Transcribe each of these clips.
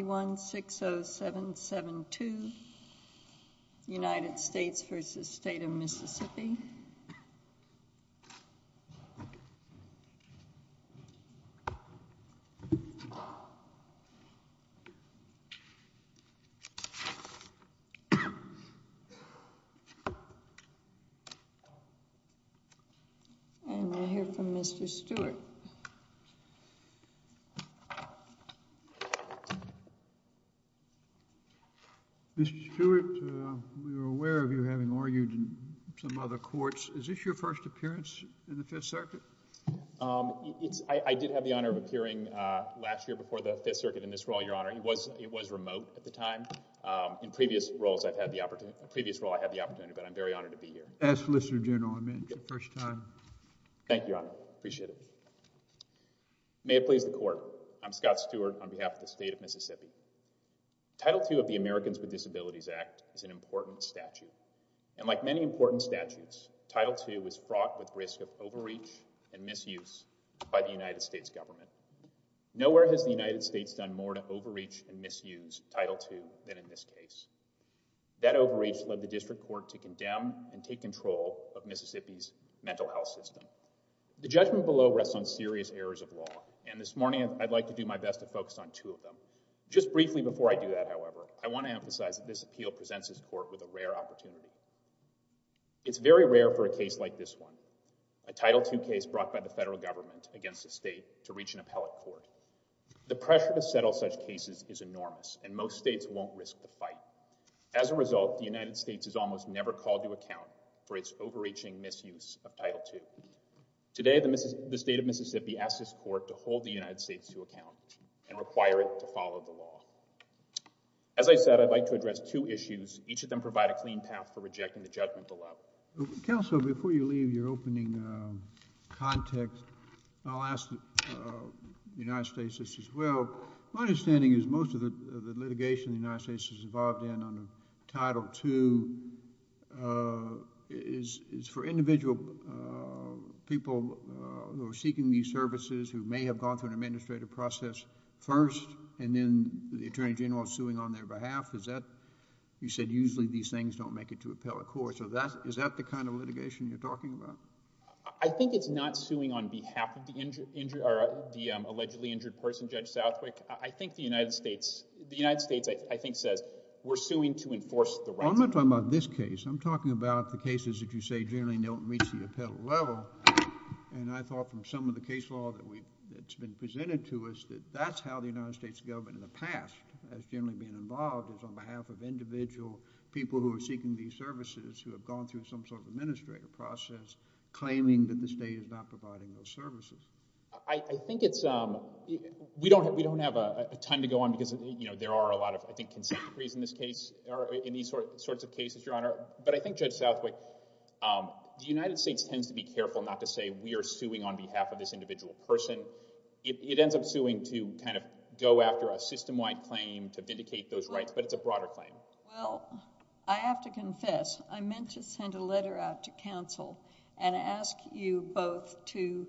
United States v. State of Mississippi. And we'll hear from Mr. Stewart. Mr. Stewart, we were aware of you having argued in some other courts. Is this your first appearance in the Fifth Circuit? I did have the honor of appearing last year before the Fifth Circuit in this role, Your Honor. It was remote at the time. In previous roles, I've had the opportunity, but I'm very honored to be here. As solicitor general, I meant the first time. Thank you, Your Honor. Appreciate it. May it please the Court. I'm Scott Stewart on behalf of the State of Mississippi. Title II of the Americans with Disabilities Act is an important statute. And like many important statutes, Title II is fraught with risk of overreach and misuse by the United States government. Nowhere has the United States done more to overreach and misuse Title II than in this case. That overreach led the District Court to condemn and take control of Mississippi's mental health system. The judgment below rests on serious errors of law. And this morning, I'd like to do my best to focus on two of them. Just briefly before I do that, however, I want to emphasize that this appeal presents this Court with a rare opportunity. It's very rare for a case like this one, a Title II case brought by the federal government against the state, to reach an appellate court. The pressure to settle such cases is enormous, and most states won't risk the fight. As a result, the United States has almost never called to account for its overreaching misuse of Title II. Today, the state of Mississippi asks this Court to hold the United States to account and require it to follow the law. As I said, I'd like to address two issues. Each of them provide a clean path for rejecting the judgment below. Counsel, before you leave your opening context, I'll ask the United States this as well. My understanding is most of the litigation the United States is involved in under Title II is for individual people who are seeking these services, who may have gone through an administrative process first, and then the Attorney General is suing on their behalf. You said usually these things don't make it to appellate court, so is that the kind of litigation you're talking about? I think it's not suing on behalf of the allegedly injured person, Judge Southwick. I think the United States says we're suing to enforce the rights. I'm not talking about this case. I'm talking about the cases that you say generally don't reach the appellate level, and I thought from some of the case law that's been presented to us that that's how the United States government in the past has generally been involved is on behalf of individual people who are seeking these services who have gone through some sort of administrative process claiming that the state is not providing those services. I think it's—we don't have a ton to go on because there are a lot of, I think, consent decrees in this case or in these sorts of cases, Your Honor, but I think, Judge Southwick, the United States tends to be careful not to say we are suing on behalf of this individual person. It ends up suing to kind of go after a system-wide claim to vindicate those rights, but it's a broader claim. Well, I have to confess, I meant to send a letter out to counsel and ask you both to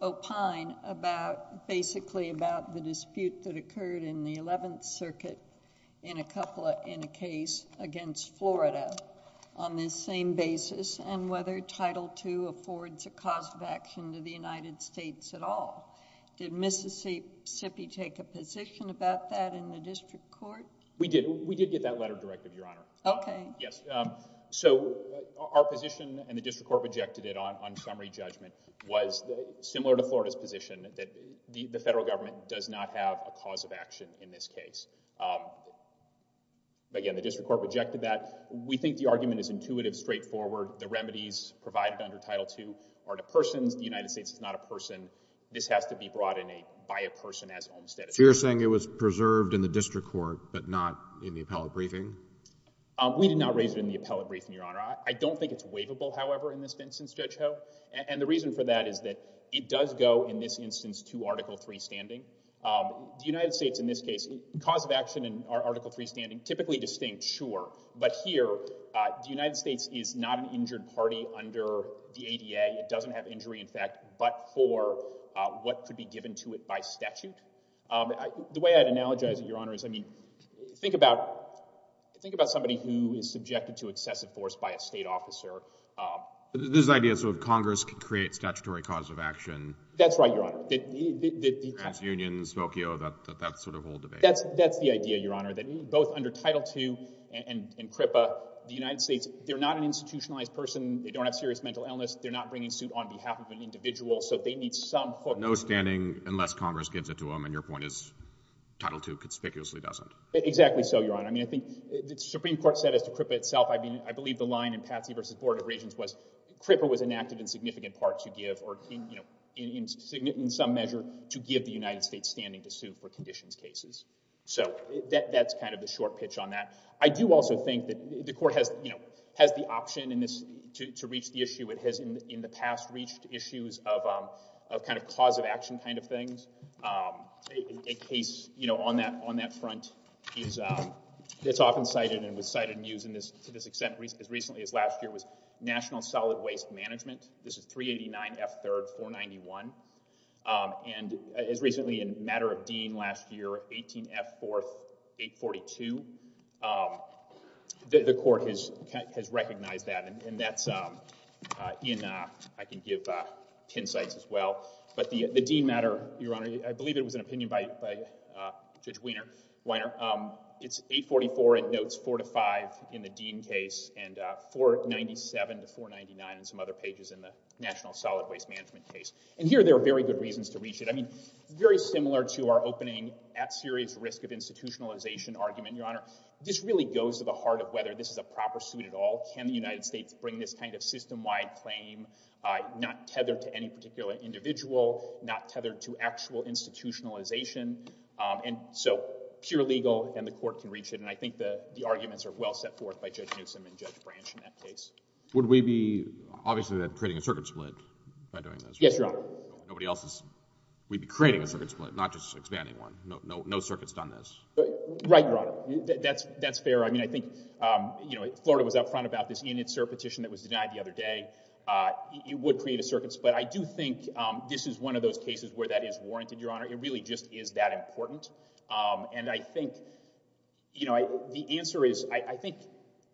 opine about— basically about the dispute that occurred in the 11th Circuit in a case against Florida on this same basis and whether Title II affords a cause of action to the United States at all. Did Mississippi take a position about that in the district court? We did. We did get that letter directed, Your Honor. Okay. Yes. So our position, and the district court rejected it on summary judgment, was similar to Florida's position that the federal government does not have a cause of action in this case. Again, the district court rejected that. We think the argument is intuitive, straightforward. The remedies provided under Title II are to persons. The United States is not a person. This has to be brought in by a person as homestead attorney. So you're saying it was preserved in the district court but not in the appellate briefing? We did not raise it in the appellate briefing, Your Honor. I don't think it's waivable, however, in this instance, Judge Ho. And the reason for that is that it does go in this instance to Article III standing. The United States in this case— cause of action in Article III standing, typically distinct, sure. But here, the United States is not an injured party under the ADA. It doesn't have injury, in fact, but for what could be given to it by statute. The way I'd analogize it, Your Honor, is, I mean, think about somebody who is subjected to excessive force by a state officer. This idea of Congress can create statutory cause of action. That's right, Your Honor. TransUnion, Smokio, that sort of whole debate. That's the idea, Your Honor, that both under Title II and CRIPA, the United States—they're not an institutionalized person. They don't have serious mental illness. They're not bringing suit on behalf of an individual, so they need some— No standing unless Congress gives it to them, and your point is Title II conspicuously doesn't. Exactly so, Your Honor. I mean, I think the Supreme Court said as to CRIPA itself, I mean, I believe the line in Patsey v. Board of Regents was CRIPA was enacted in significant part to give or, you know, in some measure to give the United States standing to sue for conditions cases. So that's kind of the short pitch on that. I do also think that the Court has, you know, has the option in this to reach the issue. It has in the past reached issues of kind of cause of action kind of things. A case, you know, on that front is—it's often cited and was cited and used to this extent as recently as last year was National Solid Waste Management. This is 389 F. 3rd, 491. And as recently in a matter of dean last year, 18 F. 4th, 842. The Court has recognized that. And that's in—I can give pin sites as well. But the dean matter, Your Honor, I believe it was an opinion by Judge Weiner. It's 844. It notes 4 to 5 in the dean case and 497 to 499 and some other pages in the National Solid Waste Management case. And here there are very good reasons to reach it. I mean, very similar to our opening at serious risk of institutionalization argument, Your Honor, this really goes to the heart of whether this is a proper suit at all. Can the United States bring this kind of system-wide claim not tethered to any particular individual, not tethered to actual institutionalization? And so pure legal and the Court can reach it. And I think the arguments are well set forth by Judge Newsom and Judge Branch in that case. Would we be, obviously, creating a circuit split by doing this? Yes, Your Honor. Nobody else is—we'd be creating a circuit split, not just expanding one. No circuit's done this. Right, Your Honor. That's fair. I mean, I think, you know, Florida was up front about this in its cert petition that was denied the other day. It would create a circuit split. I do think this is one of those cases where that is warranted, Your Honor. It really just is that important. And I think, you know, the answer is—I think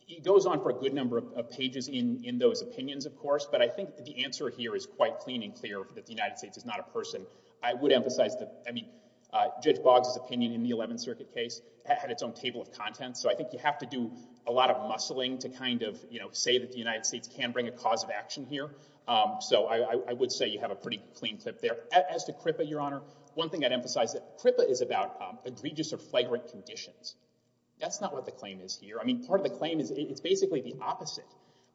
it goes on for a good number of pages in those opinions, of course, but I think the answer here is quite clean and clear that the United States is not a person. I would emphasize that—I mean, Judge Boggs' opinion in the Eleventh Circuit case had its own table of contents, so I think you have to do a lot of muscling to kind of, you know, say that the United States can bring a cause of action here. So I would say you have a pretty clean clip there. As to CRIPA, Your Honor, one thing I'd emphasize is that CRIPA is about egregious or flagrant conditions. That's not what the claim is here. I mean, part of the claim is it's basically the opposite.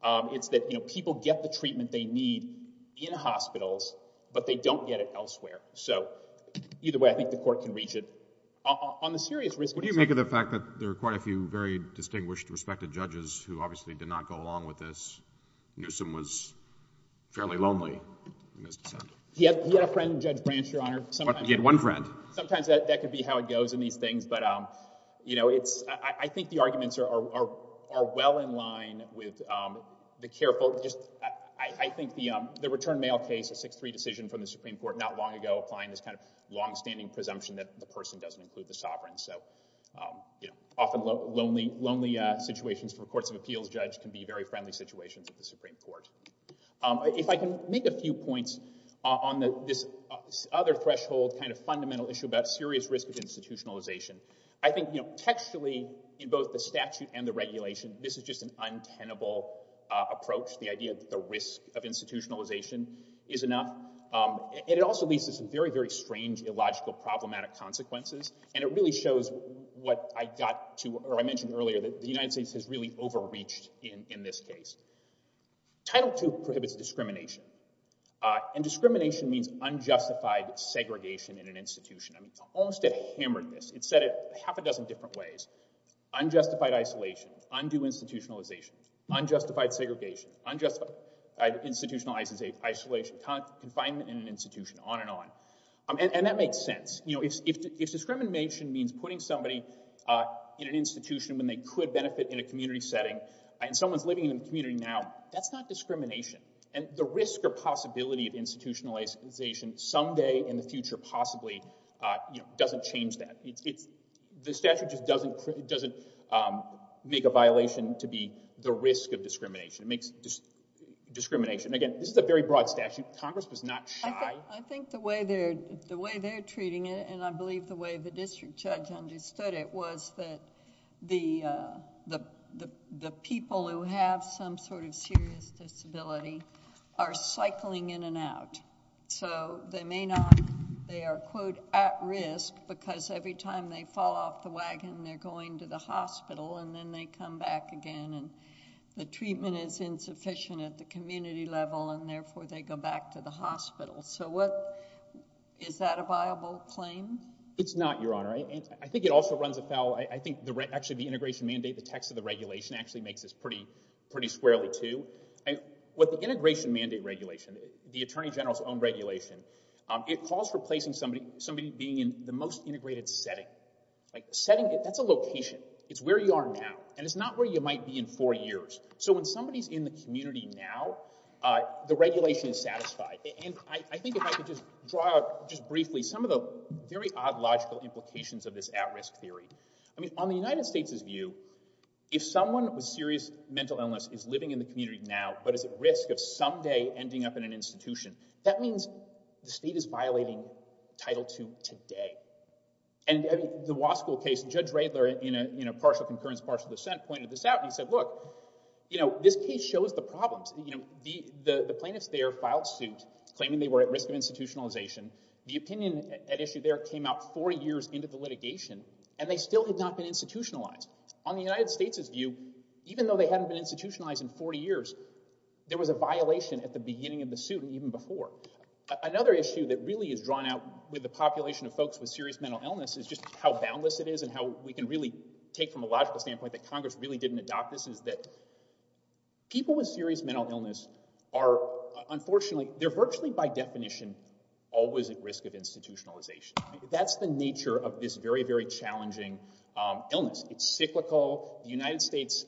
It's that, you know, people get the treatment they need in hospitals, but they don't get it elsewhere. So either way, I think the Court can reach it. On the serious risk— Would you make of the fact that there are quite a few very distinguished, respected judges who obviously did not go along with this? Newsom was fairly lonely in his dissent. He had a friend, Judge Branch, Your Honor. He had one friend. Sometimes that could be how it goes in these things, but, you know, it's— I think the arguments are well in line with the careful— I think the return mail case, a 6-3 decision from the Supreme Court not long ago, applying this kind of longstanding presumption that the person doesn't include the sovereign. So, you know, often lonely situations for courts of appeals judge can be very friendly situations at the Supreme Court. If I can make a few points on this other threshold kind of fundamental issue about serious risk of institutionalization, I think, you know, textually in both the statute and the regulation, this is just an untenable approach, the idea that the risk of institutionalization is enough. And it also leads to some very, very strange, illogical, problematic consequences, and it really shows what I got to—or I mentioned earlier that the United States has really overreached in this case. Title II prohibits discrimination, and discrimination means unjustified segregation in an institution. I mean, it almost hammered this. It said it half a dozen different ways. Unjustified isolation, undue institutionalization, unjustified segregation, unjustified institutionalized isolation, confinement in an institution, on and on. And that makes sense. You know, if discrimination means putting somebody in an institution when they could benefit in a community setting, and someone's living in a community now, that's not discrimination. And the risk or possibility of institutionalization someday in the future possibly, you know, doesn't change that. The statute just doesn't make a violation to be the risk of discrimination. It makes discrimination—again, this is a very broad statute. Congress was not shy. I think the way they're treating it, and I believe the way the district judge understood it, was that the people who have some sort of serious disability are cycling in and out. So they may not—they are, quote, at risk because every time they fall off the wagon, they're going to the hospital, and then they come back again. And the treatment is insufficient at the community level, and therefore they go back to the hospital. So what—is that a viable claim? It's not, Your Honor. I think it also runs afoul—I think actually the integration mandate, the text of the regulation actually makes this pretty squarely, too. What the integration mandate regulation, the attorney general's own regulation, it calls for placing somebody being in the most integrated setting. Like setting—that's a location. It's where you are now, and it's not where you might be in four years. So when somebody's in the community now, the regulation is satisfied. And I think if I could just draw out just briefly some of the very odd logical implications of this at-risk theory. I mean, on the United States' view, if someone with serious mental illness is living in the community now but is at risk of someday ending up in an institution, that means the state is violating Title II today. And the Wasco case, Judge Radler in a partial concurrence, partial dissent pointed this out, and he said, look, you know, this case shows the problems. You know, the plaintiffs there filed suit claiming they were at risk of institutionalization. The opinion at issue there came out four years into the litigation, and they still had not been institutionalized. On the United States' view, even though they hadn't been institutionalized in 40 years, there was a violation at the beginning of the suit and even before. Another issue that really is drawn out with the population of folks with serious mental illness is just how boundless it is and how we can really take from a logical standpoint that Congress really didn't adopt this is that people with serious mental illness are unfortunately— they're virtually by definition always at risk of institutionalization. That's the nature of this very, very challenging illness. It's cyclical. The United States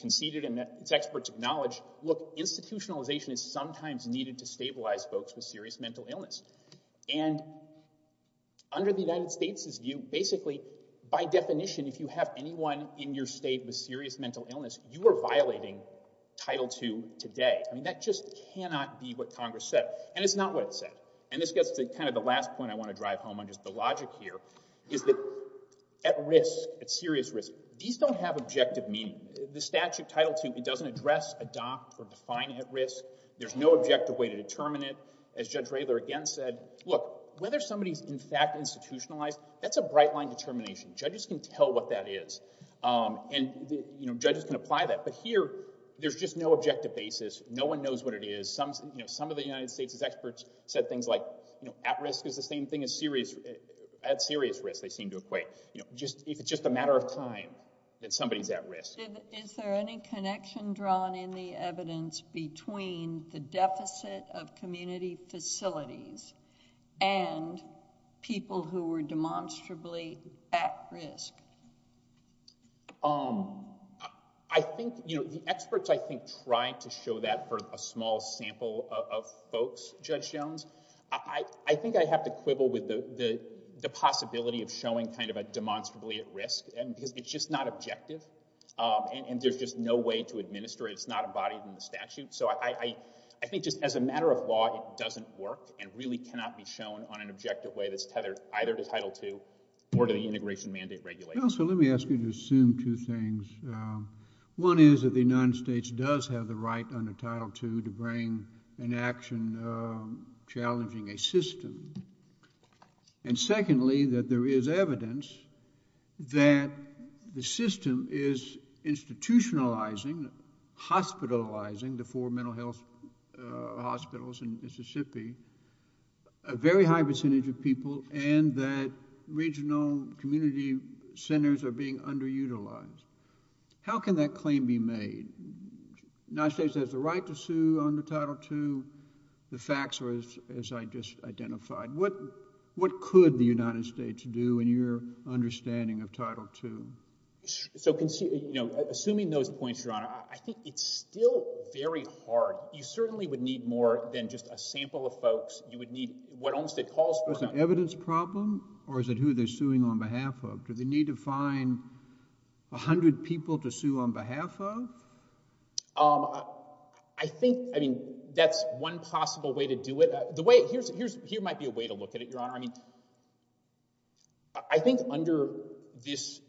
conceded and its experts acknowledged, look, institutionalization is sometimes needed to stabilize folks with serious mental illness. And under the United States' view, basically, by definition, if you have anyone in your state with serious mental illness, you are violating Title II today. I mean, that just cannot be what Congress said, and it's not what it said. And this gets to kind of the last point I want to drive home on just the logic here, is that at risk, at serious risk, these don't have objective meaning. The statute, Title II, it doesn't address, adopt, or define at risk. There's no objective way to determine it. As Judge Radler again said, look, whether somebody's in fact institutionalized, that's a bright-line determination. Judges can tell what that is, and judges can apply that. But here, there's just no objective basis. No one knows what it is. Some of the United States' experts said things like at risk is the same thing as serious— at serious risk, they seem to equate. If it's just a matter of time that somebody's at risk. Is there any connection drawn in the evidence between the deficit of community facilities and people who were demonstrably at risk? I think, you know, the experts, I think, tried to show that for a small sample of folks, Judge Jones. I think I have to quibble with the possibility of showing kind of a demonstrably at risk, because it's just not objective, and there's just no way to administer it. It's not embodied in the statute. So I think just as a matter of law, it doesn't work, and really cannot be shown on an objective way that's tethered either to Title II or to the integration mandate regulation. Well, so let me ask you to assume two things. One is that the United States does have the right under Title II to bring an action challenging a system. And secondly, that there is evidence that the system is institutionalizing, hospitalizing the four mental health hospitals in Mississippi, a very high percentage of people, and that regional community centers are being underutilized. How can that claim be made? The United States has the right to sue under Title II. The facts are as I just identified. What could the United States do in your understanding of Title II? So, you know, assuming those points, Your Honor, I think it's still very hard. You certainly would need more than just a sample of folks. You would need what Olmstead calls for. Is it an evidence problem, or is it who they're suing on behalf of? Do they need to find 100 people to sue on behalf of? I think, I mean, that's one possible way to do it. Here might be a way to look at it, Your Honor. I mean, I think under this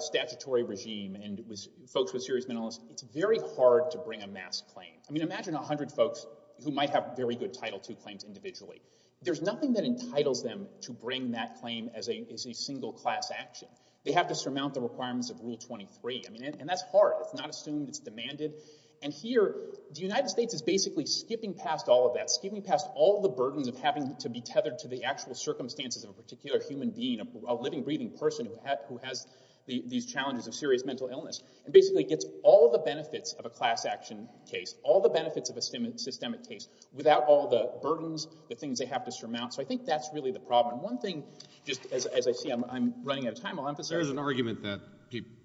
statutory regime and folks with serious mental illness, it's very hard to bring a mass claim. I mean, imagine 100 folks who might have very good Title II claims individually. There's nothing that entitles them to bring that claim as a single class action. They have to surmount the requirements of Rule 23. I mean, and that's hard. It's not assumed. It's demanded. And here the United States is basically skipping past all of that, skipping past all the burdens of having to be tethered to the actual circumstances of a particular human being, a living, breathing person who has these challenges of serious mental illness and basically gets all the benefits of a class action case, all the benefits of a systemic case without all the burdens, the things they have to surmount. So I think that's really the problem. One thing, just as I see I'm running out of time, I'll emphasize. There's an argument that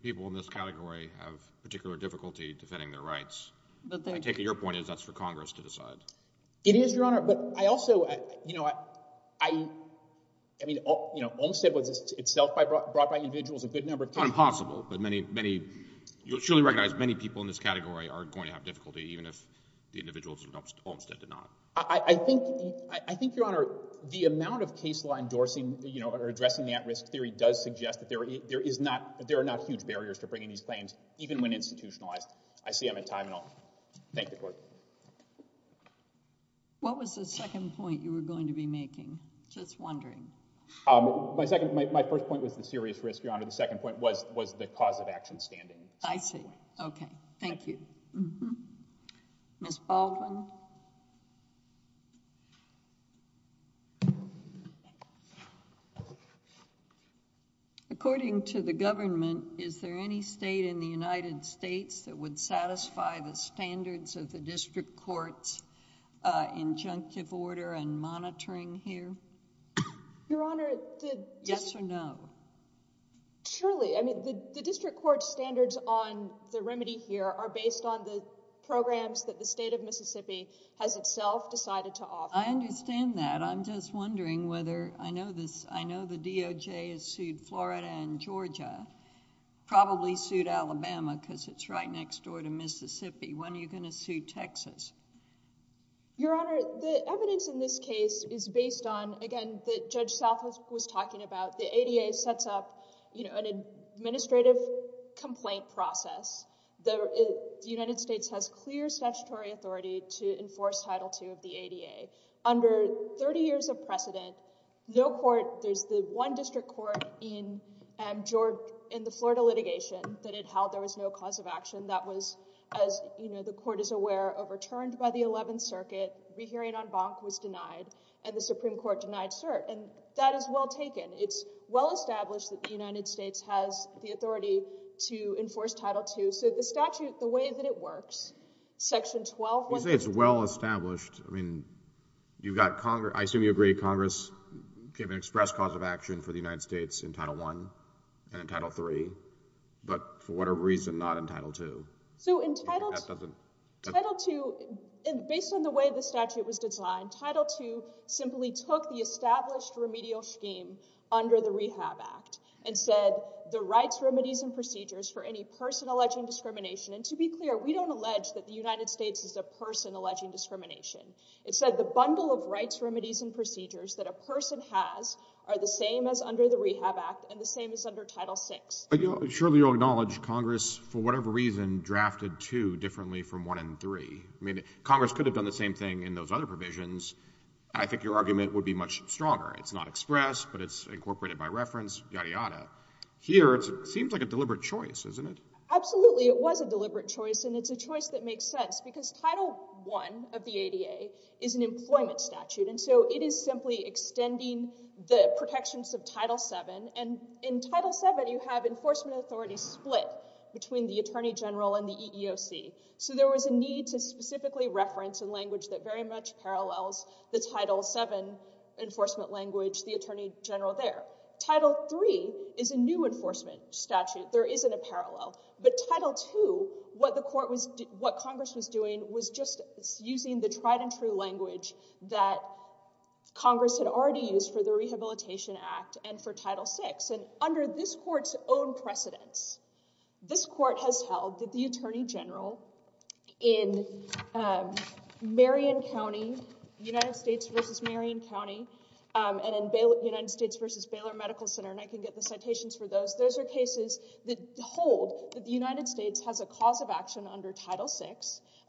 people in this category have particular difficulty defending their rights. I take it your point is that's for Congress to decide. It is, Your Honor. But I also, you know, I mean, Olmstead was itself brought by individuals a good number of times. It's not impossible, but many, you'll surely recognize many people in this category are going to have difficulty even if the individuals in Olmstead did not. I think, Your Honor, the amount of case law endorsing or addressing the at-risk theory does suggest that there are not huge barriers to bringing these claims, even when institutionalized. I see I'm at time and all. Thank you, Court. What was the second point you were going to be making? Just wondering. My first point was the serious risk, Your Honor. The second point was the cause of action standing. I see. Okay. Thank you. Ms. Baldwin? According to the government, is there any state in the United States that would satisfy the standards of the district court's injunctive order and monitoring here? Your Honor, the district... Yes or no? Surely. I mean, the district court's standards on the remedy here are based on the programs that the state of Mississippi has itself decided to offer. I understand that. I'm just wondering whether... I know the DOJ has sued Florida and Georgia, probably sued Alabama because it's right next door to Mississippi. When are you going to sue Texas? Your Honor, the evidence in this case is based on, again, what Judge South was talking about. The ADA sets up an administrative complaint process. The United States has clear statutory authority to enforce Title II of the ADA. Under thirty years of precedent, no court... There's the one district court in the Florida litigation that it held there was no cause of action. That was, as the court is aware, overturned by the Eleventh Circuit. Rehearing on Bonk was denied, and the Supreme Court denied cert, and that is well taken. It's well established that the United States has the authority to enforce Title II. So the statute, the way that it works, Section 12... You say it's well established. I mean, you've got Congress... I assume you agree Congress gave an express cause of action for the United States in Title I and in Title III, but for whatever reason not in Title II. So in Title II, based on the way the statute was designed, Title II simply took the established remedial scheme under the Rehab Act and said the rights, remedies, and procedures for any person alleging discrimination... And to be clear, we don't allege that the United States is a person alleging discrimination. It said the bundle of rights, remedies, and procedures that a person has are the same as under the Rehab Act and the same as under Title VI. Surely you'll acknowledge Congress, for whatever reason, drafted II differently from I and III. I mean, Congress could have done the same thing in those other provisions, and I think your argument would be much stronger. It's not expressed, but it's incorporated by reference, yada, yada. Here, it seems like a deliberate choice, isn't it? Absolutely, it was a deliberate choice, and it's a choice that makes sense because Title I of the ADA is an employment statute, and so it is simply extending the protections of Title VII. And in Title VII, you have enforcement authority split between the attorney general and the EEOC. So there was a need to specifically reference a language that very much parallels the Title VII enforcement language, the attorney general there. Title III is a new enforcement statute. There isn't a parallel. But Title II, what Congress was doing was just using the tried-and-true language that Congress had already used for the Rehabilitation Act and for Title VI. And under this court's own precedence, this court has held that the attorney general in Marion County, United States v. Marion County, and in United States v. Baylor Medical Center, and I can get the citations for those, those are cases that hold that the United States has a cause of action under Title VI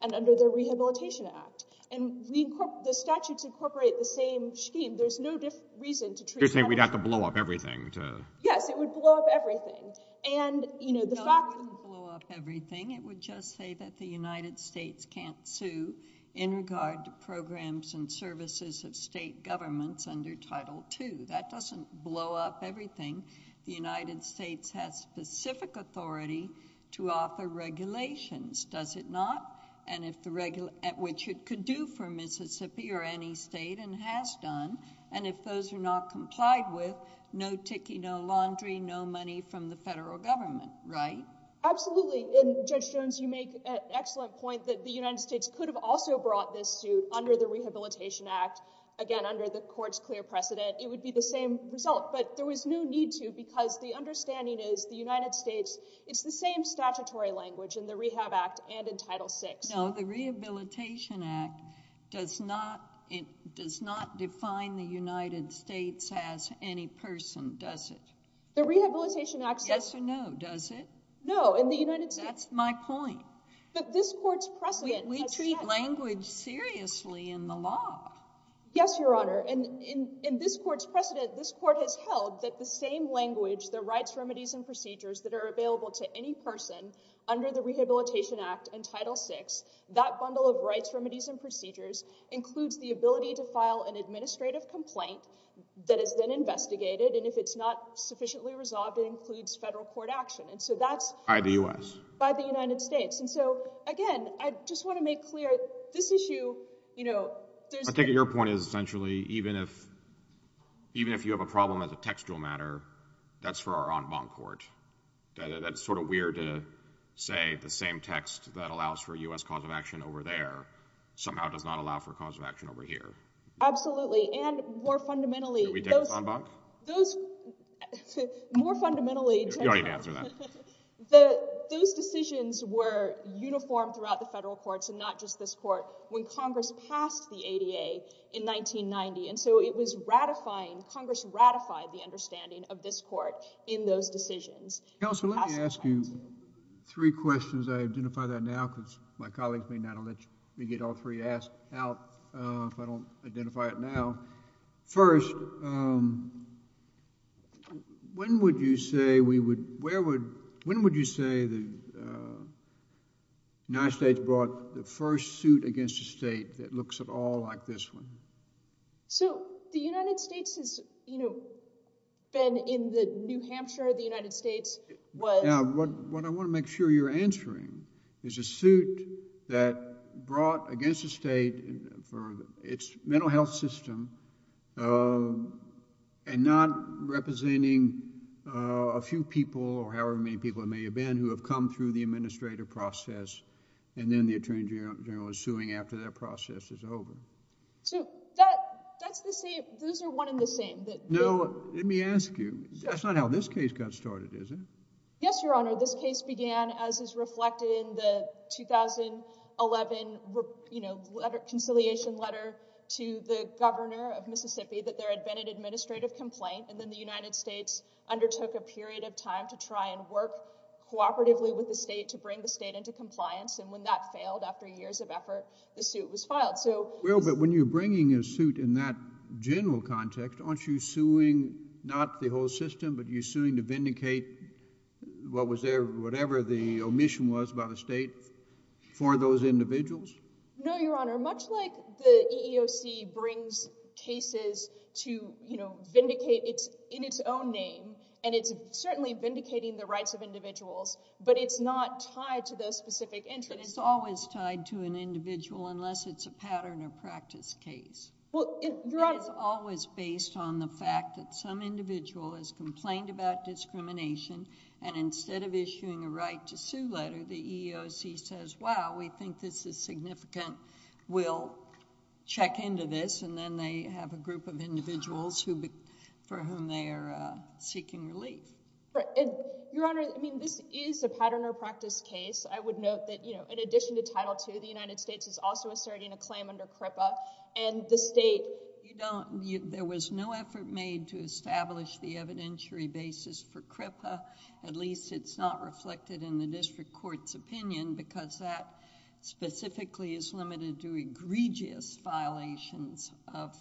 and under the Rehabilitation Act. And the statutes incorporate the same scheme. There's no reason to treat that as— You're saying we'd have to blow up everything to— Yes, it would blow up everything. And, you know, the fact— No, it wouldn't blow up everything. It would just say that the United States can't sue in regard to programs and services of state governments under Title II. That doesn't blow up everything. The United States has specific authority to offer regulations, does it not? And if the—which it could do for Mississippi or any state and has done, and if those are not complied with, no tiki, no laundry, no money from the federal government, right? Absolutely. And Judge Jones, you make an excellent point that the United States could have also brought this suit under the Rehabilitation Act. Again, under the court's clear precedent, it would be the same result. But there was no need to because the understanding is the United States, it's the same statutory language in the Rehab Act and in Title VI. No, the Rehabilitation Act does not define the United States as any person, does it? The Rehabilitation Act says— Yes or no, does it? No, in the United States— That's my point. But this court's precedent has said— We treat language seriously in the law. Yes, Your Honor. And in this court's precedent, this court has held that the same language, the rights, remedies, and procedures that are available to any person under the Rehabilitation Act and Title VI, that bundle of rights, remedies, and procedures includes the ability to file an administrative complaint that is then investigated. And if it's not sufficiently resolved, it includes federal court action. And so that's— By the U.S. By the United States. And so, again, I just want to make clear, this issue, you know, there's— I think your point is, essentially, even if you have a problem as a textual matter, that's for our en banc court. That's sort of weird to say the same text that allows for U.S. cause of action over there somehow does not allow for cause of action over here. Absolutely. And more fundamentally— Should we take the en banc? Those—more fundamentally— You don't need to answer that. Those decisions were uniform throughout the federal courts and not just this court. When Congress passed the ADA in 1990, and so it was ratifying— Congress ratified the understanding of this court in those decisions. Counsel, let me ask you three questions. I identify that now because my colleagues may not let me get all three asked out if I don't identify it now. First, when would you say we would— that looks at all like this one? So, the United States has, you know, been in the New Hampshire of the United States. Now, what I want to make sure you're answering is a suit that brought against the state for its mental health system and not representing a few people or however many people it may have been who have come through the administrative process and then the attorney general is suing after that process is over. So, that's the same—those are one and the same. No, let me ask you. That's not how this case got started, is it? Yes, Your Honor. This case began as is reflected in the 2011, you know, letter—conciliation letter to the governor of Mississippi that there had been an administrative complaint and then the United States undertook a period of time to try and work cooperatively with the state to bring the state into compliance and when that failed after years of effort, the suit was filed. Well, but when you're bringing a suit in that general context, aren't you suing not the whole system but you're suing to vindicate whatever the omission was by the state for those individuals? No, Your Honor. Much like the EEOC brings cases to, you know, vindicate in its own name and it's certainly vindicating the rights of individuals but it's not tied to those specific interests. It's always tied to an individual unless it's a pattern or practice case. Well, Your Honor— It's always based on the fact that some individual has complained about discrimination and instead of issuing a right to sue letter, the EEOC says, wow, we think this is significant, we'll check into this and then they have a group of individuals for whom they are seeking relief. Your Honor, I mean, this is a pattern or practice case. I would note that, you know, in addition to Title II, the United States is also asserting a claim under CRIPA and the state— There was no effort made to establish the evidentiary basis for CRIPA. And because that specifically is limited to egregious violations of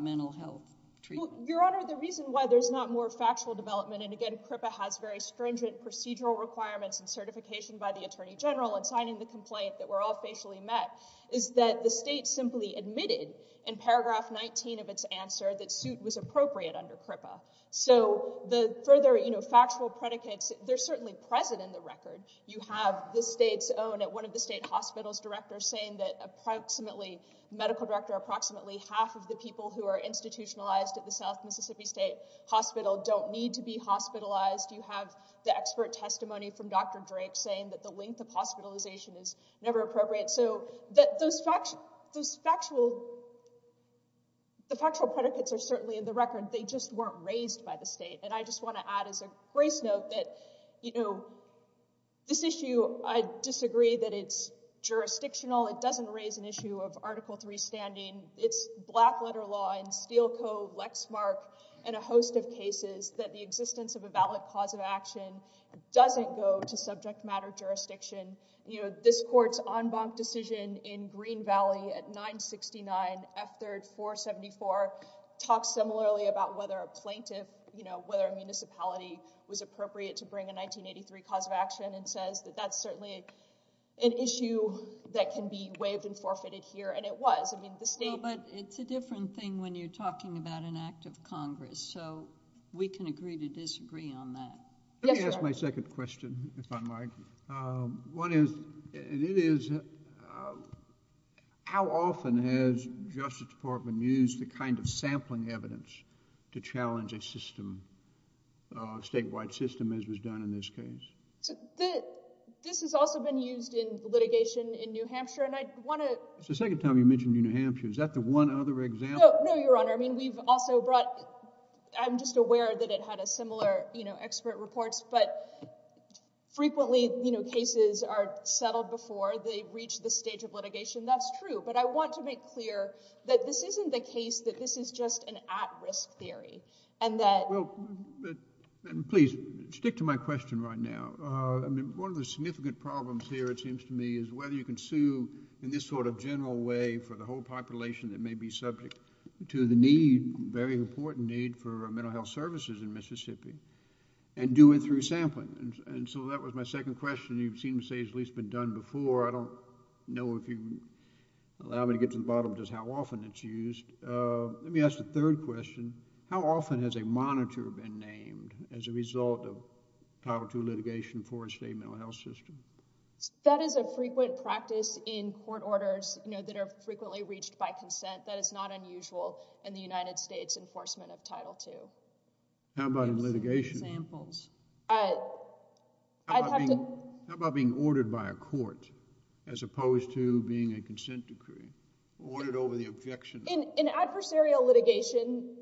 mental health treatment. Well, Your Honor, the reason why there's not more factual development and again CRIPA has very stringent procedural requirements and certification by the Attorney General in signing the complaint that we're all facially met is that the state simply admitted in paragraph 19 of its answer that suit was appropriate under CRIPA. So the further, you know, factual predicates, they're certainly present in the record. You have the state's own at one of the state hospitals' directors saying that approximately— medical director approximately half of the people who are institutionalized at the South Mississippi State Hospital don't need to be hospitalized. You have the expert testimony from Dr. Drake saying that the length of hospitalization is never appropriate. So those factual—the factual predicates are certainly in the record. They just weren't raised by the state. And I just want to add as a grace note that, you know, this issue, I disagree that it's jurisdictional. It doesn't raise an issue of Article III standing. It's black letter law and steel code, Lexmark, and a host of cases that the existence of a valid cause of action doesn't go to subject matter jurisdiction. You know, this court's en banc decision in Green Valley at 969 F. 3rd 474 talks similarly about whether a plaintiff, you know, whether a municipality was appropriate to bring a 1983 cause of action and says that that's certainly an issue that can be waived and forfeited here, and it was. I mean, the state— No, but it's a different thing when you're talking about an act of Congress. So we can agree to disagree on that. Let me ask my second question, if I might. One is, and it is, how often has Justice Department used the kind of sampling evidence to challenge a system, a statewide system, as was done in this case? This has also been used in litigation in New Hampshire, and I want to— It's the second time you mentioned New Hampshire. Is that the one other example? No, Your Honor. I mean, we've also brought— I'm just aware that it had a similar, you know, expert reports, but frequently, you know, cases are settled before they reach the stage of litigation. That's true, but I want to make clear that this isn't the case, that this is just an at-risk theory, and that— Well, please, stick to my question right now. I mean, one of the significant problems here, it seems to me, is whether you can sue in this sort of general way for the whole population that may be subject to the need, very important need, for mental health services in Mississippi and do it through sampling, and so that was my second question. You seem to say it's at least been done before. I don't know if you can allow me to get to the bottom of just how often it's used. Let me ask the third question. How often has a monitor been named as a result of Title II litigation for a state mental health system? That is a frequent practice in court orders, you know, that are frequently reached by consent. That is not unusual in the United States enforcement of Title II. How about in litigation? I'd have to— How about being ordered by a court as opposed to being a consent decree, ordered over the objection? In adversarial litigation,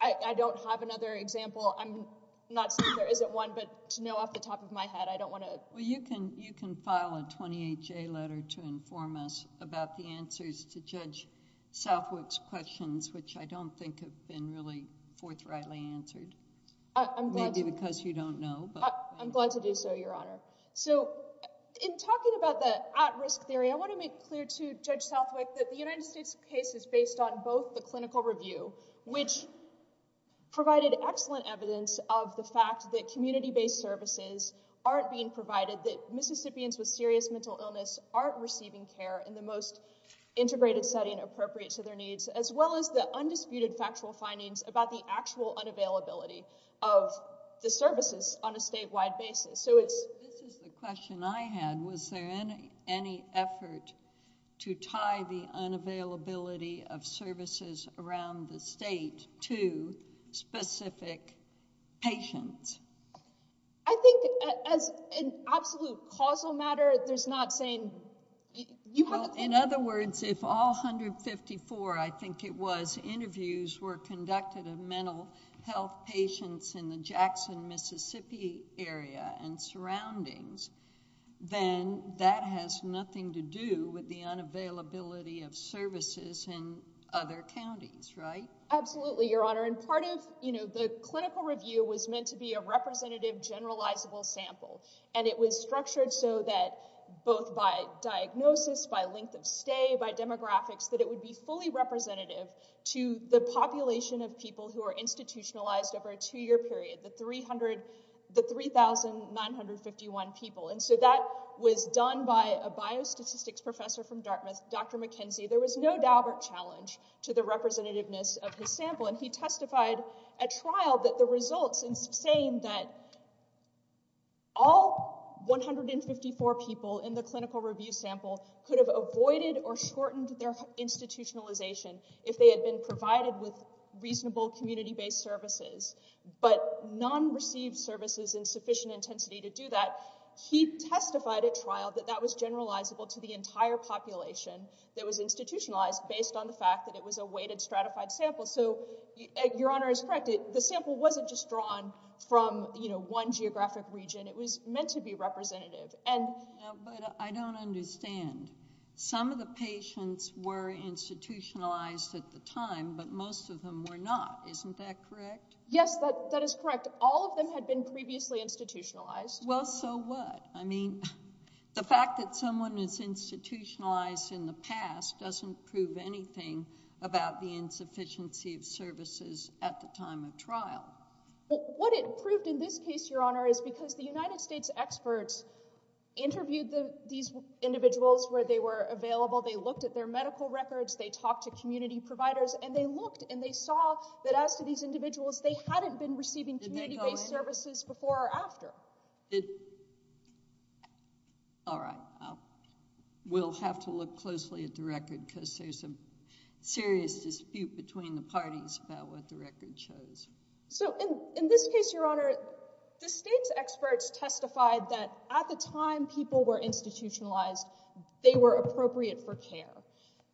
I don't have another example. I'm not saying there isn't one, but to know off the top of my head, I don't want to— Well, you can file a 28-J letter to inform us about the answers to Judge Southwick's questions, which I don't think have been really forthrightly answered, maybe because you don't know. I'm glad to do so, Your Honor. In talking about the at-risk theory, I want to make clear to Judge Southwick that the United States case is based on both the clinical review, which provided excellent evidence of the fact that community-based services aren't being provided, that Mississippians with serious mental illness aren't receiving care in the most integrated setting appropriate to their needs, as well as the undisputed factual findings about the actual unavailability of the services on a statewide basis. This is the question I had. Was there any effort to tie the unavailability of services around the state to specific patients? I think as an absolute causal matter, there's not saying— Well, in other words, if all 154, I think it was, interviews were conducted of mental health patients in the Jackson, Mississippi area and surroundings, then that has nothing to do with the unavailability of services in other counties, right? Absolutely, Your Honor. And part of the clinical review was meant to be a representative, generalizable sample, and it was structured so that both by diagnosis, by length of stay, by demographics, that it would be fully representative to the population of people who are institutionalized over a two-year period, the 3,951 people. And so that was done by a biostatistics professor from Dartmouth, Dr. McKenzie. There was no Daubert challenge to the representativeness of his sample, and he testified at trial that the results in saying that all 154 people in the clinical review sample could have avoided or shortened their institutionalization if they had been provided with reasonable community-based services, but none received services in sufficient intensity to do that. He testified at trial that that was generalizable to the entire population that was institutionalized based on the fact that it was a weighted stratified sample. So Your Honor is correct. The sample wasn't just drawn from one geographic region. It was meant to be representative. But I don't understand. Some of the patients were institutionalized at the time, but most of them were not. Isn't that correct? Yes, that is correct. All of them had been previously institutionalized. Well, so what? I mean, the fact that someone is institutionalized in the past doesn't prove anything about the insufficiency of services at the time of trial. Well, what it proved in this case, Your Honor, is because the United States experts interviewed these individuals where they were available. They looked at their medical records. They talked to community providers, and they looked, and they saw that as to these individuals, they hadn't been receiving community-based services before or after. All right. We'll have to look closely at the record because there's a serious dispute between the parties about what the record shows. So in this case, Your Honor, the state's experts testified that at the time people were institutionalized, they were appropriate for care.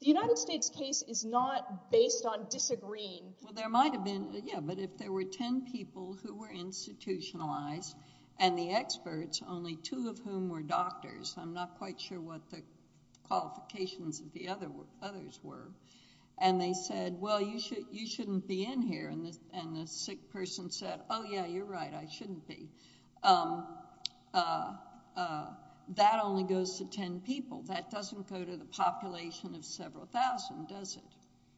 The United States case is not based on disagreeing. Well, there might have been, yeah, but if there were ten people who were institutionalized and the experts, only two of whom were doctors, I'm not quite sure what the qualifications of the others were, and they said, well, you shouldn't be in here, and the sick person said, oh, yeah, you're right, I shouldn't be, that only goes to ten people. That doesn't go to the population of several thousand, does it?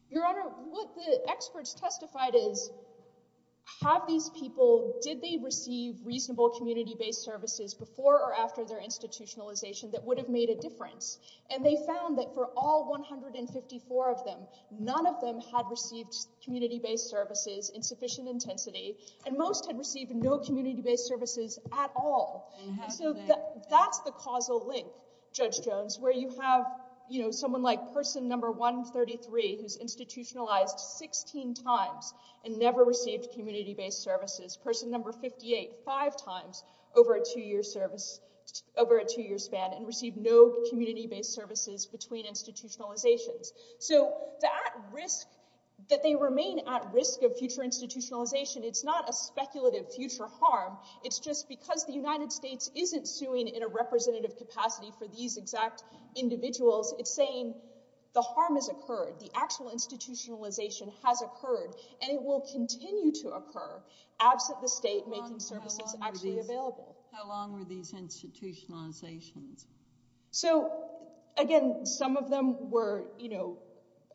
Your Honor, what the experts testified is, have these people, did they receive reasonable community-based services before or after their institutionalization that would have made a difference? And they found that for all 154 of them, none of them had received community-based services in sufficient intensity, and most had received no community-based services at all. So that's the causal link, Judge Jones, where you have, you know, someone like person number 133, who's institutionalized 16 times and never received community-based services, person number 58, five times over a two-year span and received no community-based services between institutionalizations. So that risk, that they remain at risk of future institutionalization, it's not a speculative future harm, it's just because the United States isn't suing in a representative capacity for these exact individuals, it's saying the harm has occurred, the actual institutionalization has occurred, and it will continue to occur, absent the state making services actually available. How long were these institutionalizations? So, again, some of them were, you know,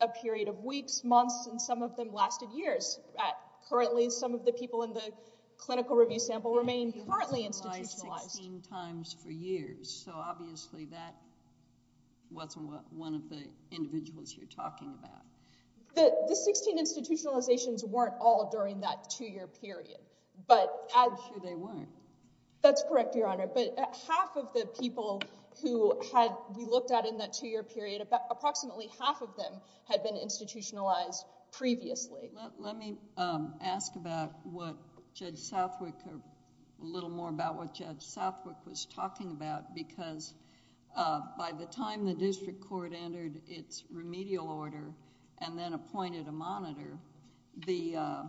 a period of weeks, months, and some of them lasted years. Currently, some of the people in the clinical review sample remain partly institutionalized. They've been institutionalized 16 times for years, so obviously that wasn't one of the individuals you're talking about. The 16 institutionalizations weren't all during that two-year period. I'm sure they weren't. That's correct, Your Honor, but half of the people who we looked at in that two-year period, approximately half of them had been institutionalized previously. Let me ask about what Judge Southwick, a little more about what Judge Southwick was talking about, because by the time the district court entered its remedial order and then appointed a monitor, the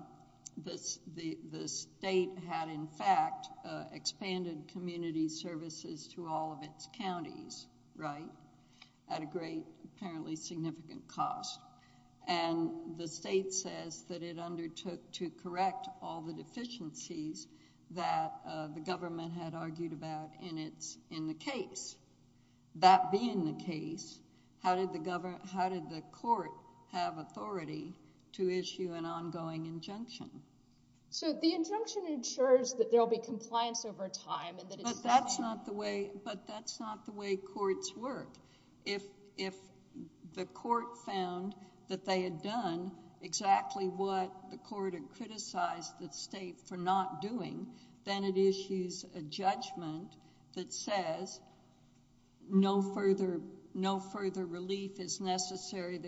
state had, in fact, expanded community services to all of its counties, right? At a great, apparently significant cost. And the state says that it undertook to correct all the deficiencies that the government had argued about in the case. That being the case, how did the court have authority to issue an ongoing injunction? So the injunction ensures that there will be compliance over time. But that's not the way courts work. If the court found that they had done exactly what the court had criticized the state for not doing, then it issues a judgment that says no further relief is necessary.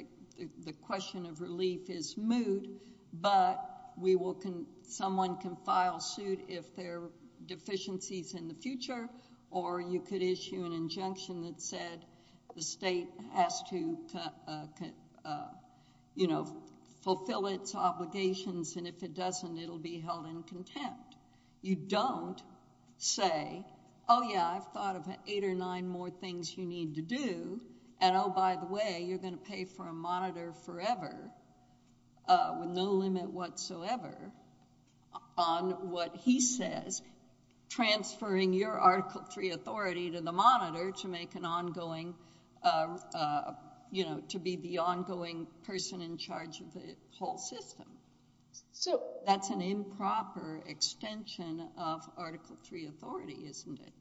The question of relief is moot, but someone can file suit if there are deficiencies in the future, or you could issue an injunction that said the state has to, you know, fulfill its obligations, and if it doesn't, it will be held in contempt. You don't say, oh, yeah, I've thought of eight or nine more things you need to do, and oh, by the way, you're going to pay for a monitor forever with no limit whatsoever on what he says, transferring your Article III authority to the monitor to make an ongoing, you know, to be the ongoing person in charge of the whole system. That's an improper extension of Article III authority, isn't it?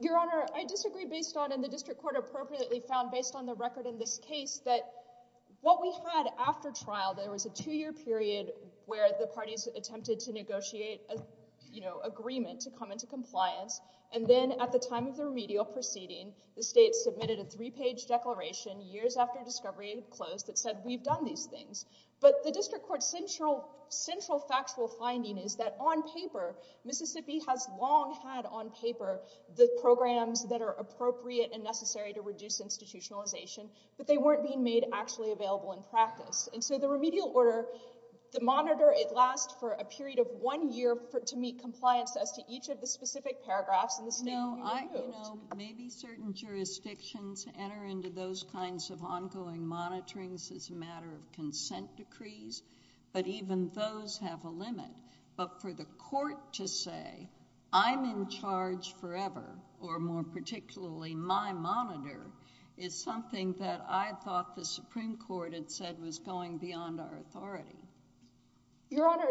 Your Honor, I disagree based on, and the district court appropriately found based on the record in this case, that what we had after trial, there was a two-year period where the parties attempted to negotiate, you know, agreement to come into compliance, and then at the time of the remedial proceeding, the state submitted a three-page declaration years after discovery had closed that said we've done these things. But the district court's central factual finding is that on paper, Mississippi has long had on paper the programs that are appropriate and necessary to reduce institutionalization, but they weren't being made actually available in practice. And so the remedial order, the monitor, it lasts for a period of one year to meet compliance as to each of the specific paragraphs in the statement. No, I, you know, maybe certain jurisdictions enter into those kinds of ongoing monitorings as a matter of consent decrees, but even those have a limit. But for the court to say, I'm in charge forever, or more particularly, my monitor, is something that I thought the Supreme Court had said was going beyond our authority. Your Honor,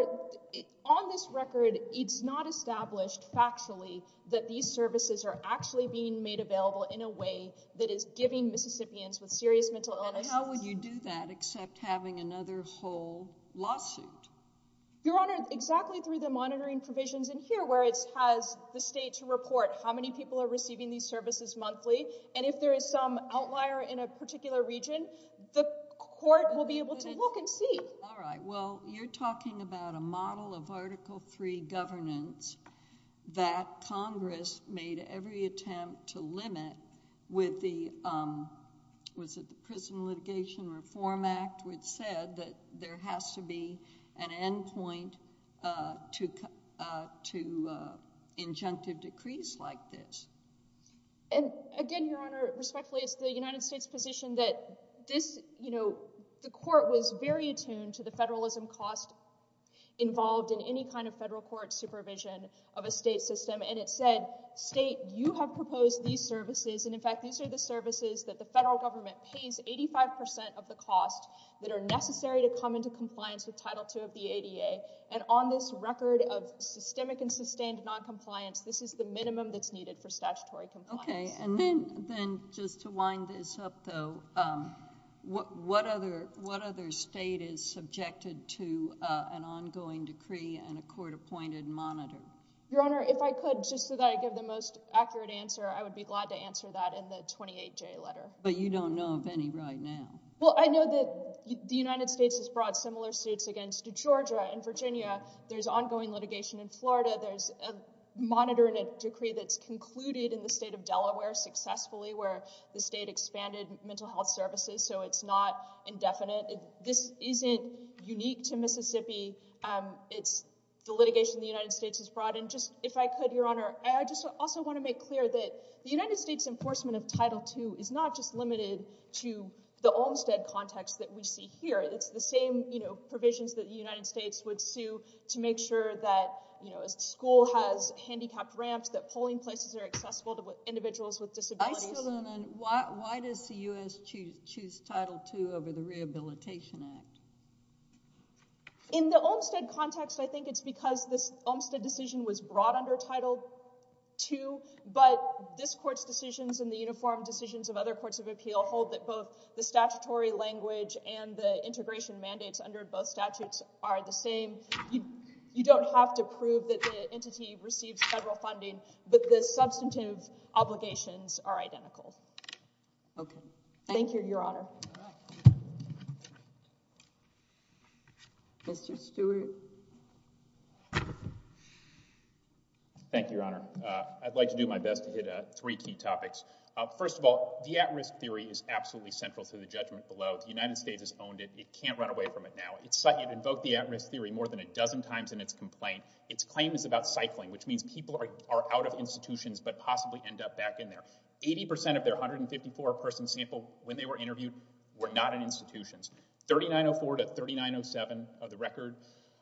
on this record, it's not established factually that these services are actually being made available in a way that is giving Mississippians with serious mental illnesses— And how would you do that except having another whole lawsuit? Your Honor, exactly through the monitoring provisions in here, where it has the state to report how many people are receiving these services monthly, and if there is some outlier in a particular region, the court will be able to look and see. All right, well, you're talking about a model of Article III governance that Congress made every attempt to limit with the, was it the Prison Litigation Reform Act, which said that there has to be an end point to injunctive decrees like this. And again, Your Honor, respectfully, it's the United States' position that this, you know, the court was very attuned to the federalism cost involved in any kind of federal court supervision of a state system, and it said, state, you have proposed these services, and in fact, these are the services that the federal government pays 85 percent of the cost that are necessary to come into compliance with Title II of the ADA, and on this record of systemic and sustained noncompliance, this is the minimum that's needed for statutory compliance. Okay, and then just to wind this up, though, what other state is subjected to an ongoing decree and a court-appointed monitor? Your Honor, if I could, just so that I give the most accurate answer, I would be glad to answer that in the 28-J letter. But you don't know of any right now. Well, I know that the United States has brought similar suits against Georgia and Virginia. There's ongoing litigation in Florida. There's a monitor and a decree that's concluded in the state of Delaware successfully where the state expanded mental health services, so it's not indefinite. This isn't unique to Mississippi. It's the litigation the United States has brought, and just if I could, Your Honor, I just also want to make clear that the United States enforcement of Title II is not just limited to the Olmstead context that we see here. It's the same, you know, provisions that the United States would sue to make sure that, you know, a school has handicapped ramps, that polling places are accessible to individuals with disabilities. Why does the U.S. choose Title II over the Rehabilitation Act? In the Olmstead context, I think it's because this Olmstead decision was brought under Title II, but this Court's decisions and the uniform decisions of other courts of appeal hold that both the statutory language and the integration mandates under both statutes are the same. You don't have to prove that the entity receives federal funding, but the substantive obligations are identical. Okay. Thank you, Your Honor. Mr. Stewart. Thank you, Your Honor. I'd like to do my best to hit three key topics. First of all, the at-risk theory is absolutely central to the judgment below. The United States has owned it. It can't run away from it now. It invoked the at-risk theory more than a dozen times in its complaint. Its claim is about cycling, which means people are out of institutions but possibly end up back in there. Eighty percent of their 154-person sample when they were interviewed were not in institutions. 3904 to 3907 of the record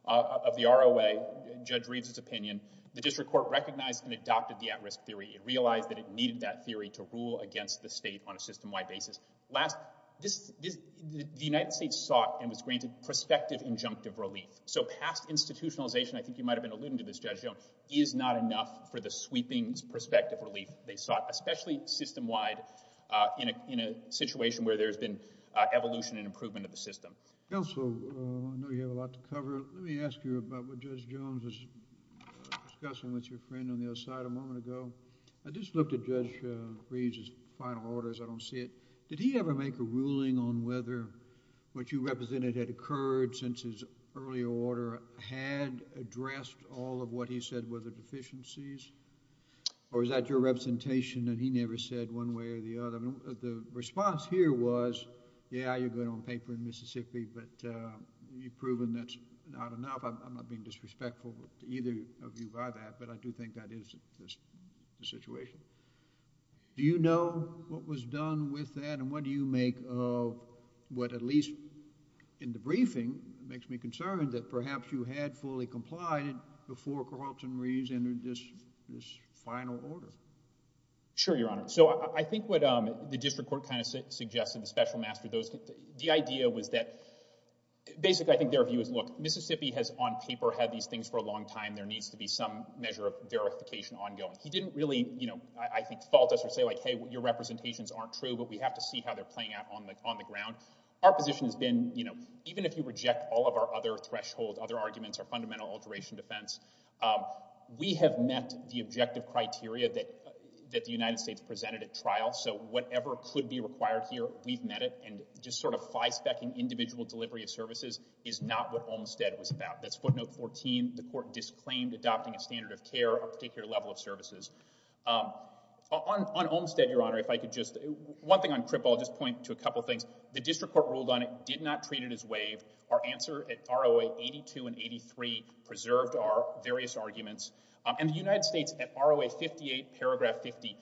of the ROA, Judge Reeves' opinion, the District Court recognized and adopted the at-risk theory. It realized that it needed that theory to rule against the state on a system-wide basis. The United States sought and was granted prospective injunctive relief. So past institutionalization, I think you might have been alluding to this, Judge Jones, is not enough for the sweeping prospective relief they sought, especially system-wide in a situation where there has been evolution and improvement of the system. Counsel, I know you have a lot to cover. Let me ask you about what Judge Jones was discussing with your friend on the other side a moment ago. I just looked at Judge Reeves' final orders. I don't see it. Did he ever make a ruling on whether what you represented had occurred since his earlier order had addressed all of what he said were the deficiencies, or is that your representation that he never said one way or the other? The response here was, yeah, you're good on paper in Mississippi, but you've proven that's not enough. I'm not being disrespectful to either of you by that, but I do think that is the situation. Do you know what was done with that, and what do you make of what, at least in the briefing, makes me concerned that perhaps you had fully complied before Carlton Reeves entered this final order? Sure, Your Honor. So I think what the district court kind of suggested, the special master, the idea was that basically I think their view was, look, Mississippi has on paper had these things for a long time. There needs to be some measure of verification ongoing. He didn't really, I think, fault us or say like, hey, your representations aren't true, but we have to see how they're playing out on the ground. Our position has been even if you reject all of our other thresholds, other arguments, our fundamental alteration defense, we have met the objective criteria that the United States presented at trial, so whatever could be required here, we've met it, and just sort of five-specking individual delivery of services is not what Olmstead was about. That's footnote 14. The court disclaimed adopting a standard of care, a particular level of services. On Olmstead, Your Honor, if I could just, one thing on Crip, I'll just point to a couple things. The district court ruled on it, did not treat it as waived. Our answer at ROA 82 and 83 preserved our various arguments, and the United States at ROA 58, paragraph 50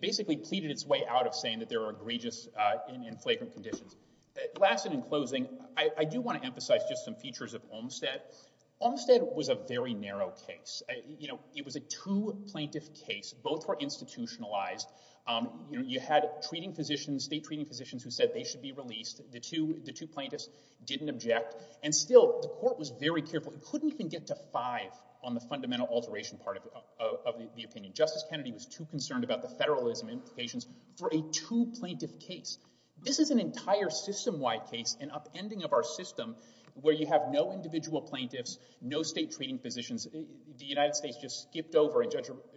basically pleaded its way out of saying that there were egregious and flagrant conditions. Last and in closing, I do want to emphasize just some features of Olmstead. Olmstead was a very narrow case. It was a two-plaintiff case. Both were institutionalized. You had treating physicians, state treating physicians who said they should be released. The two plaintiffs didn't object, and still the court was very careful. It couldn't even get to five on the fundamental alteration part of the opinion. Justice Kennedy was too concerned about the federalism implications for a two-plaintiff case. This is an entire system-wide case, an upending of our system, where you have no individual plaintiffs, no state treating physicians. The United States just skipped over, and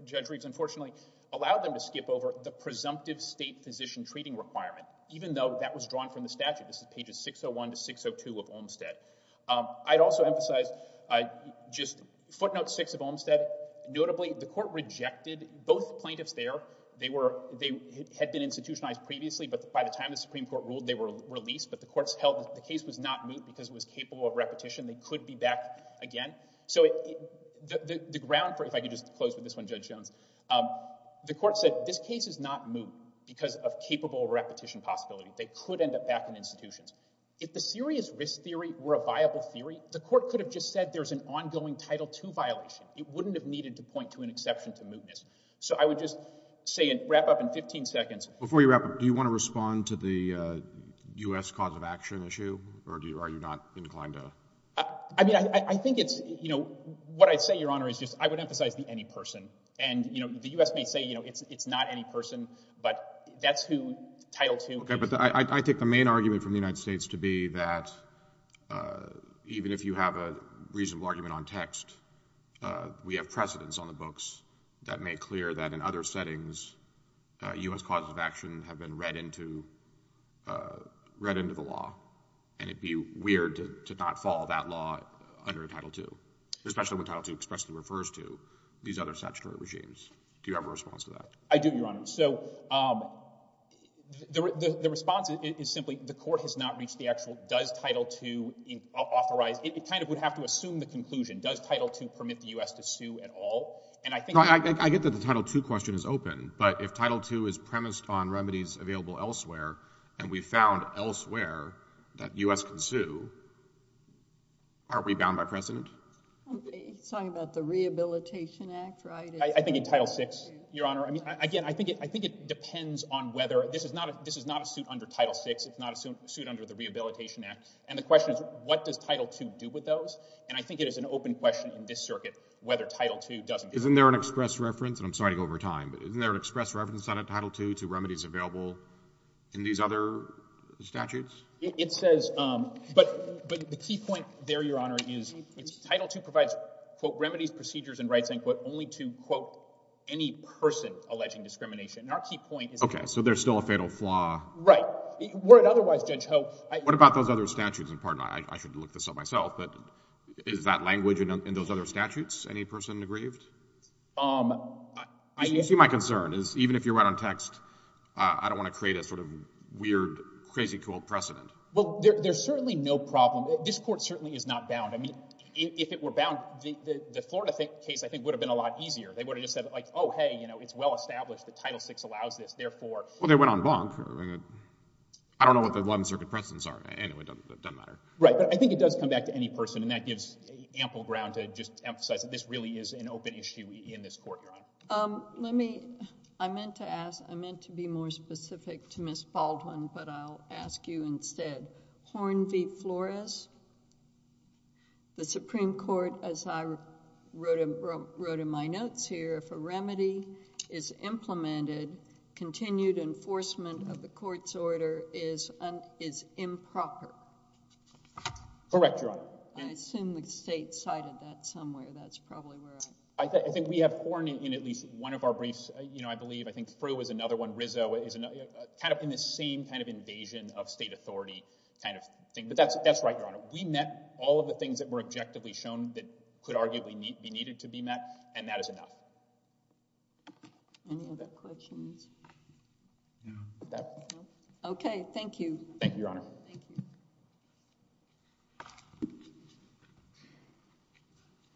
Judge Reeves, unfortunately, allowed them to skip over the presumptive state physician treating requirement, even though that was drawn from the statute. This is pages 601 to 602 of Olmstead. I'd also emphasize just footnote six of Olmstead. Notably, the court rejected both plaintiffs there. They had been institutionalized previously, but by the time the Supreme Court ruled, they were released. But the case was not moot because it was capable of repetition. They could be back again. So the ground for it, if I could just close with this one, Judge Jones. The court said this case is not moot because of capable repetition possibility. They could end up back in institutions. If the serious risk theory were a viable theory, the court could have just said there's an ongoing Title II violation. It wouldn't have needed to point to an exception to mootness. So I would just say and wrap up in 15 seconds. Before you wrap up, do you want to respond to the U.S. cause of action issue, or are you not inclined to? I mean, I think it's, you know, what I'd say, Your Honor, is just I would emphasize the any person. And, you know, the U.S. may say, you know, it's not any person, but that's who Title II is. Okay, but I take the main argument from the United States to be that even if you have a reasonable argument on text, we have precedents on the books that make clear that in other settings U.S. causes of action have been read into the law. And it would be weird to not follow that law under Title II, especially when Title II expressly refers to these other statutory regimes. Do you have a response to that? I do, Your Honor. So the response is simply the court has not reached the actual does Title II authorize. It kind of would have to assume the conclusion. Does Title II permit the U.S. to sue at all? And I think— I get that the Title II question is open, but if Title II is premised on remedies available elsewhere, and we found elsewhere that U.S. can sue, aren't we bound by precedent? Sorry about the Rehabilitation Act, right? I think in Title VI, Your Honor, I mean, again, I think it depends on whether— this is not a suit under Title VI. It's not a suit under the Rehabilitation Act. And the question is what does Title II do with those? And I think it is an open question in this circuit whether Title II doesn't— Isn't there an express reference—and I'm sorry to go over time, but isn't there an express reference under Title II to remedies available in these other statutes? It says—but the key point there, Your Honor, is Title II provides, quote, remedies, procedures, and rights, end quote, only to, quote, any person alleging discrimination. And our key point is— Okay, so there's still a fatal flaw. Right. But were it otherwise, Judge Ho— What about those other statutes? And pardon, I should look this up myself, but is that language in those other statutes any person aggrieved? You see my concern is even if you're right on text, I don't want to create a sort of weird, crazy cool precedent. Well, there's certainly no problem. This Court certainly is not bound. I mean, if it were bound, the Florida case I think would have been a lot easier. They would have just said, like, oh, hey, you know, it's well established that Title VI allows this. And therefore— Well, they went on bonk. I don't know what the 11th Circuit precedents are. Anyway, it doesn't matter. Right. But I think it does come back to any person, and that gives ample ground to just emphasize that this really is an open issue in this Court, Your Honor. Let me—I meant to ask—I meant to be more specific to Ms. Baldwin, but I'll ask you instead. Horn v. Flores, the Supreme Court, as I wrote in my notes here, if a remedy is implemented, continued enforcement of the court's order is improper. Correct, Your Honor. I assume the state cited that somewhere. That's probably where I'm— I think we have Horn in at least one of our briefs, you know, I believe. I think Frew is another one. Rizzo is another—kind of in the same kind of invasion of state authority kind of thing. But that's right, Your Honor. We met all of the things that were objectively shown that could arguably be needed to be met, and that is enough. Any other questions? No. Okay. Thank you. Thank you, Your Honor. Thank you.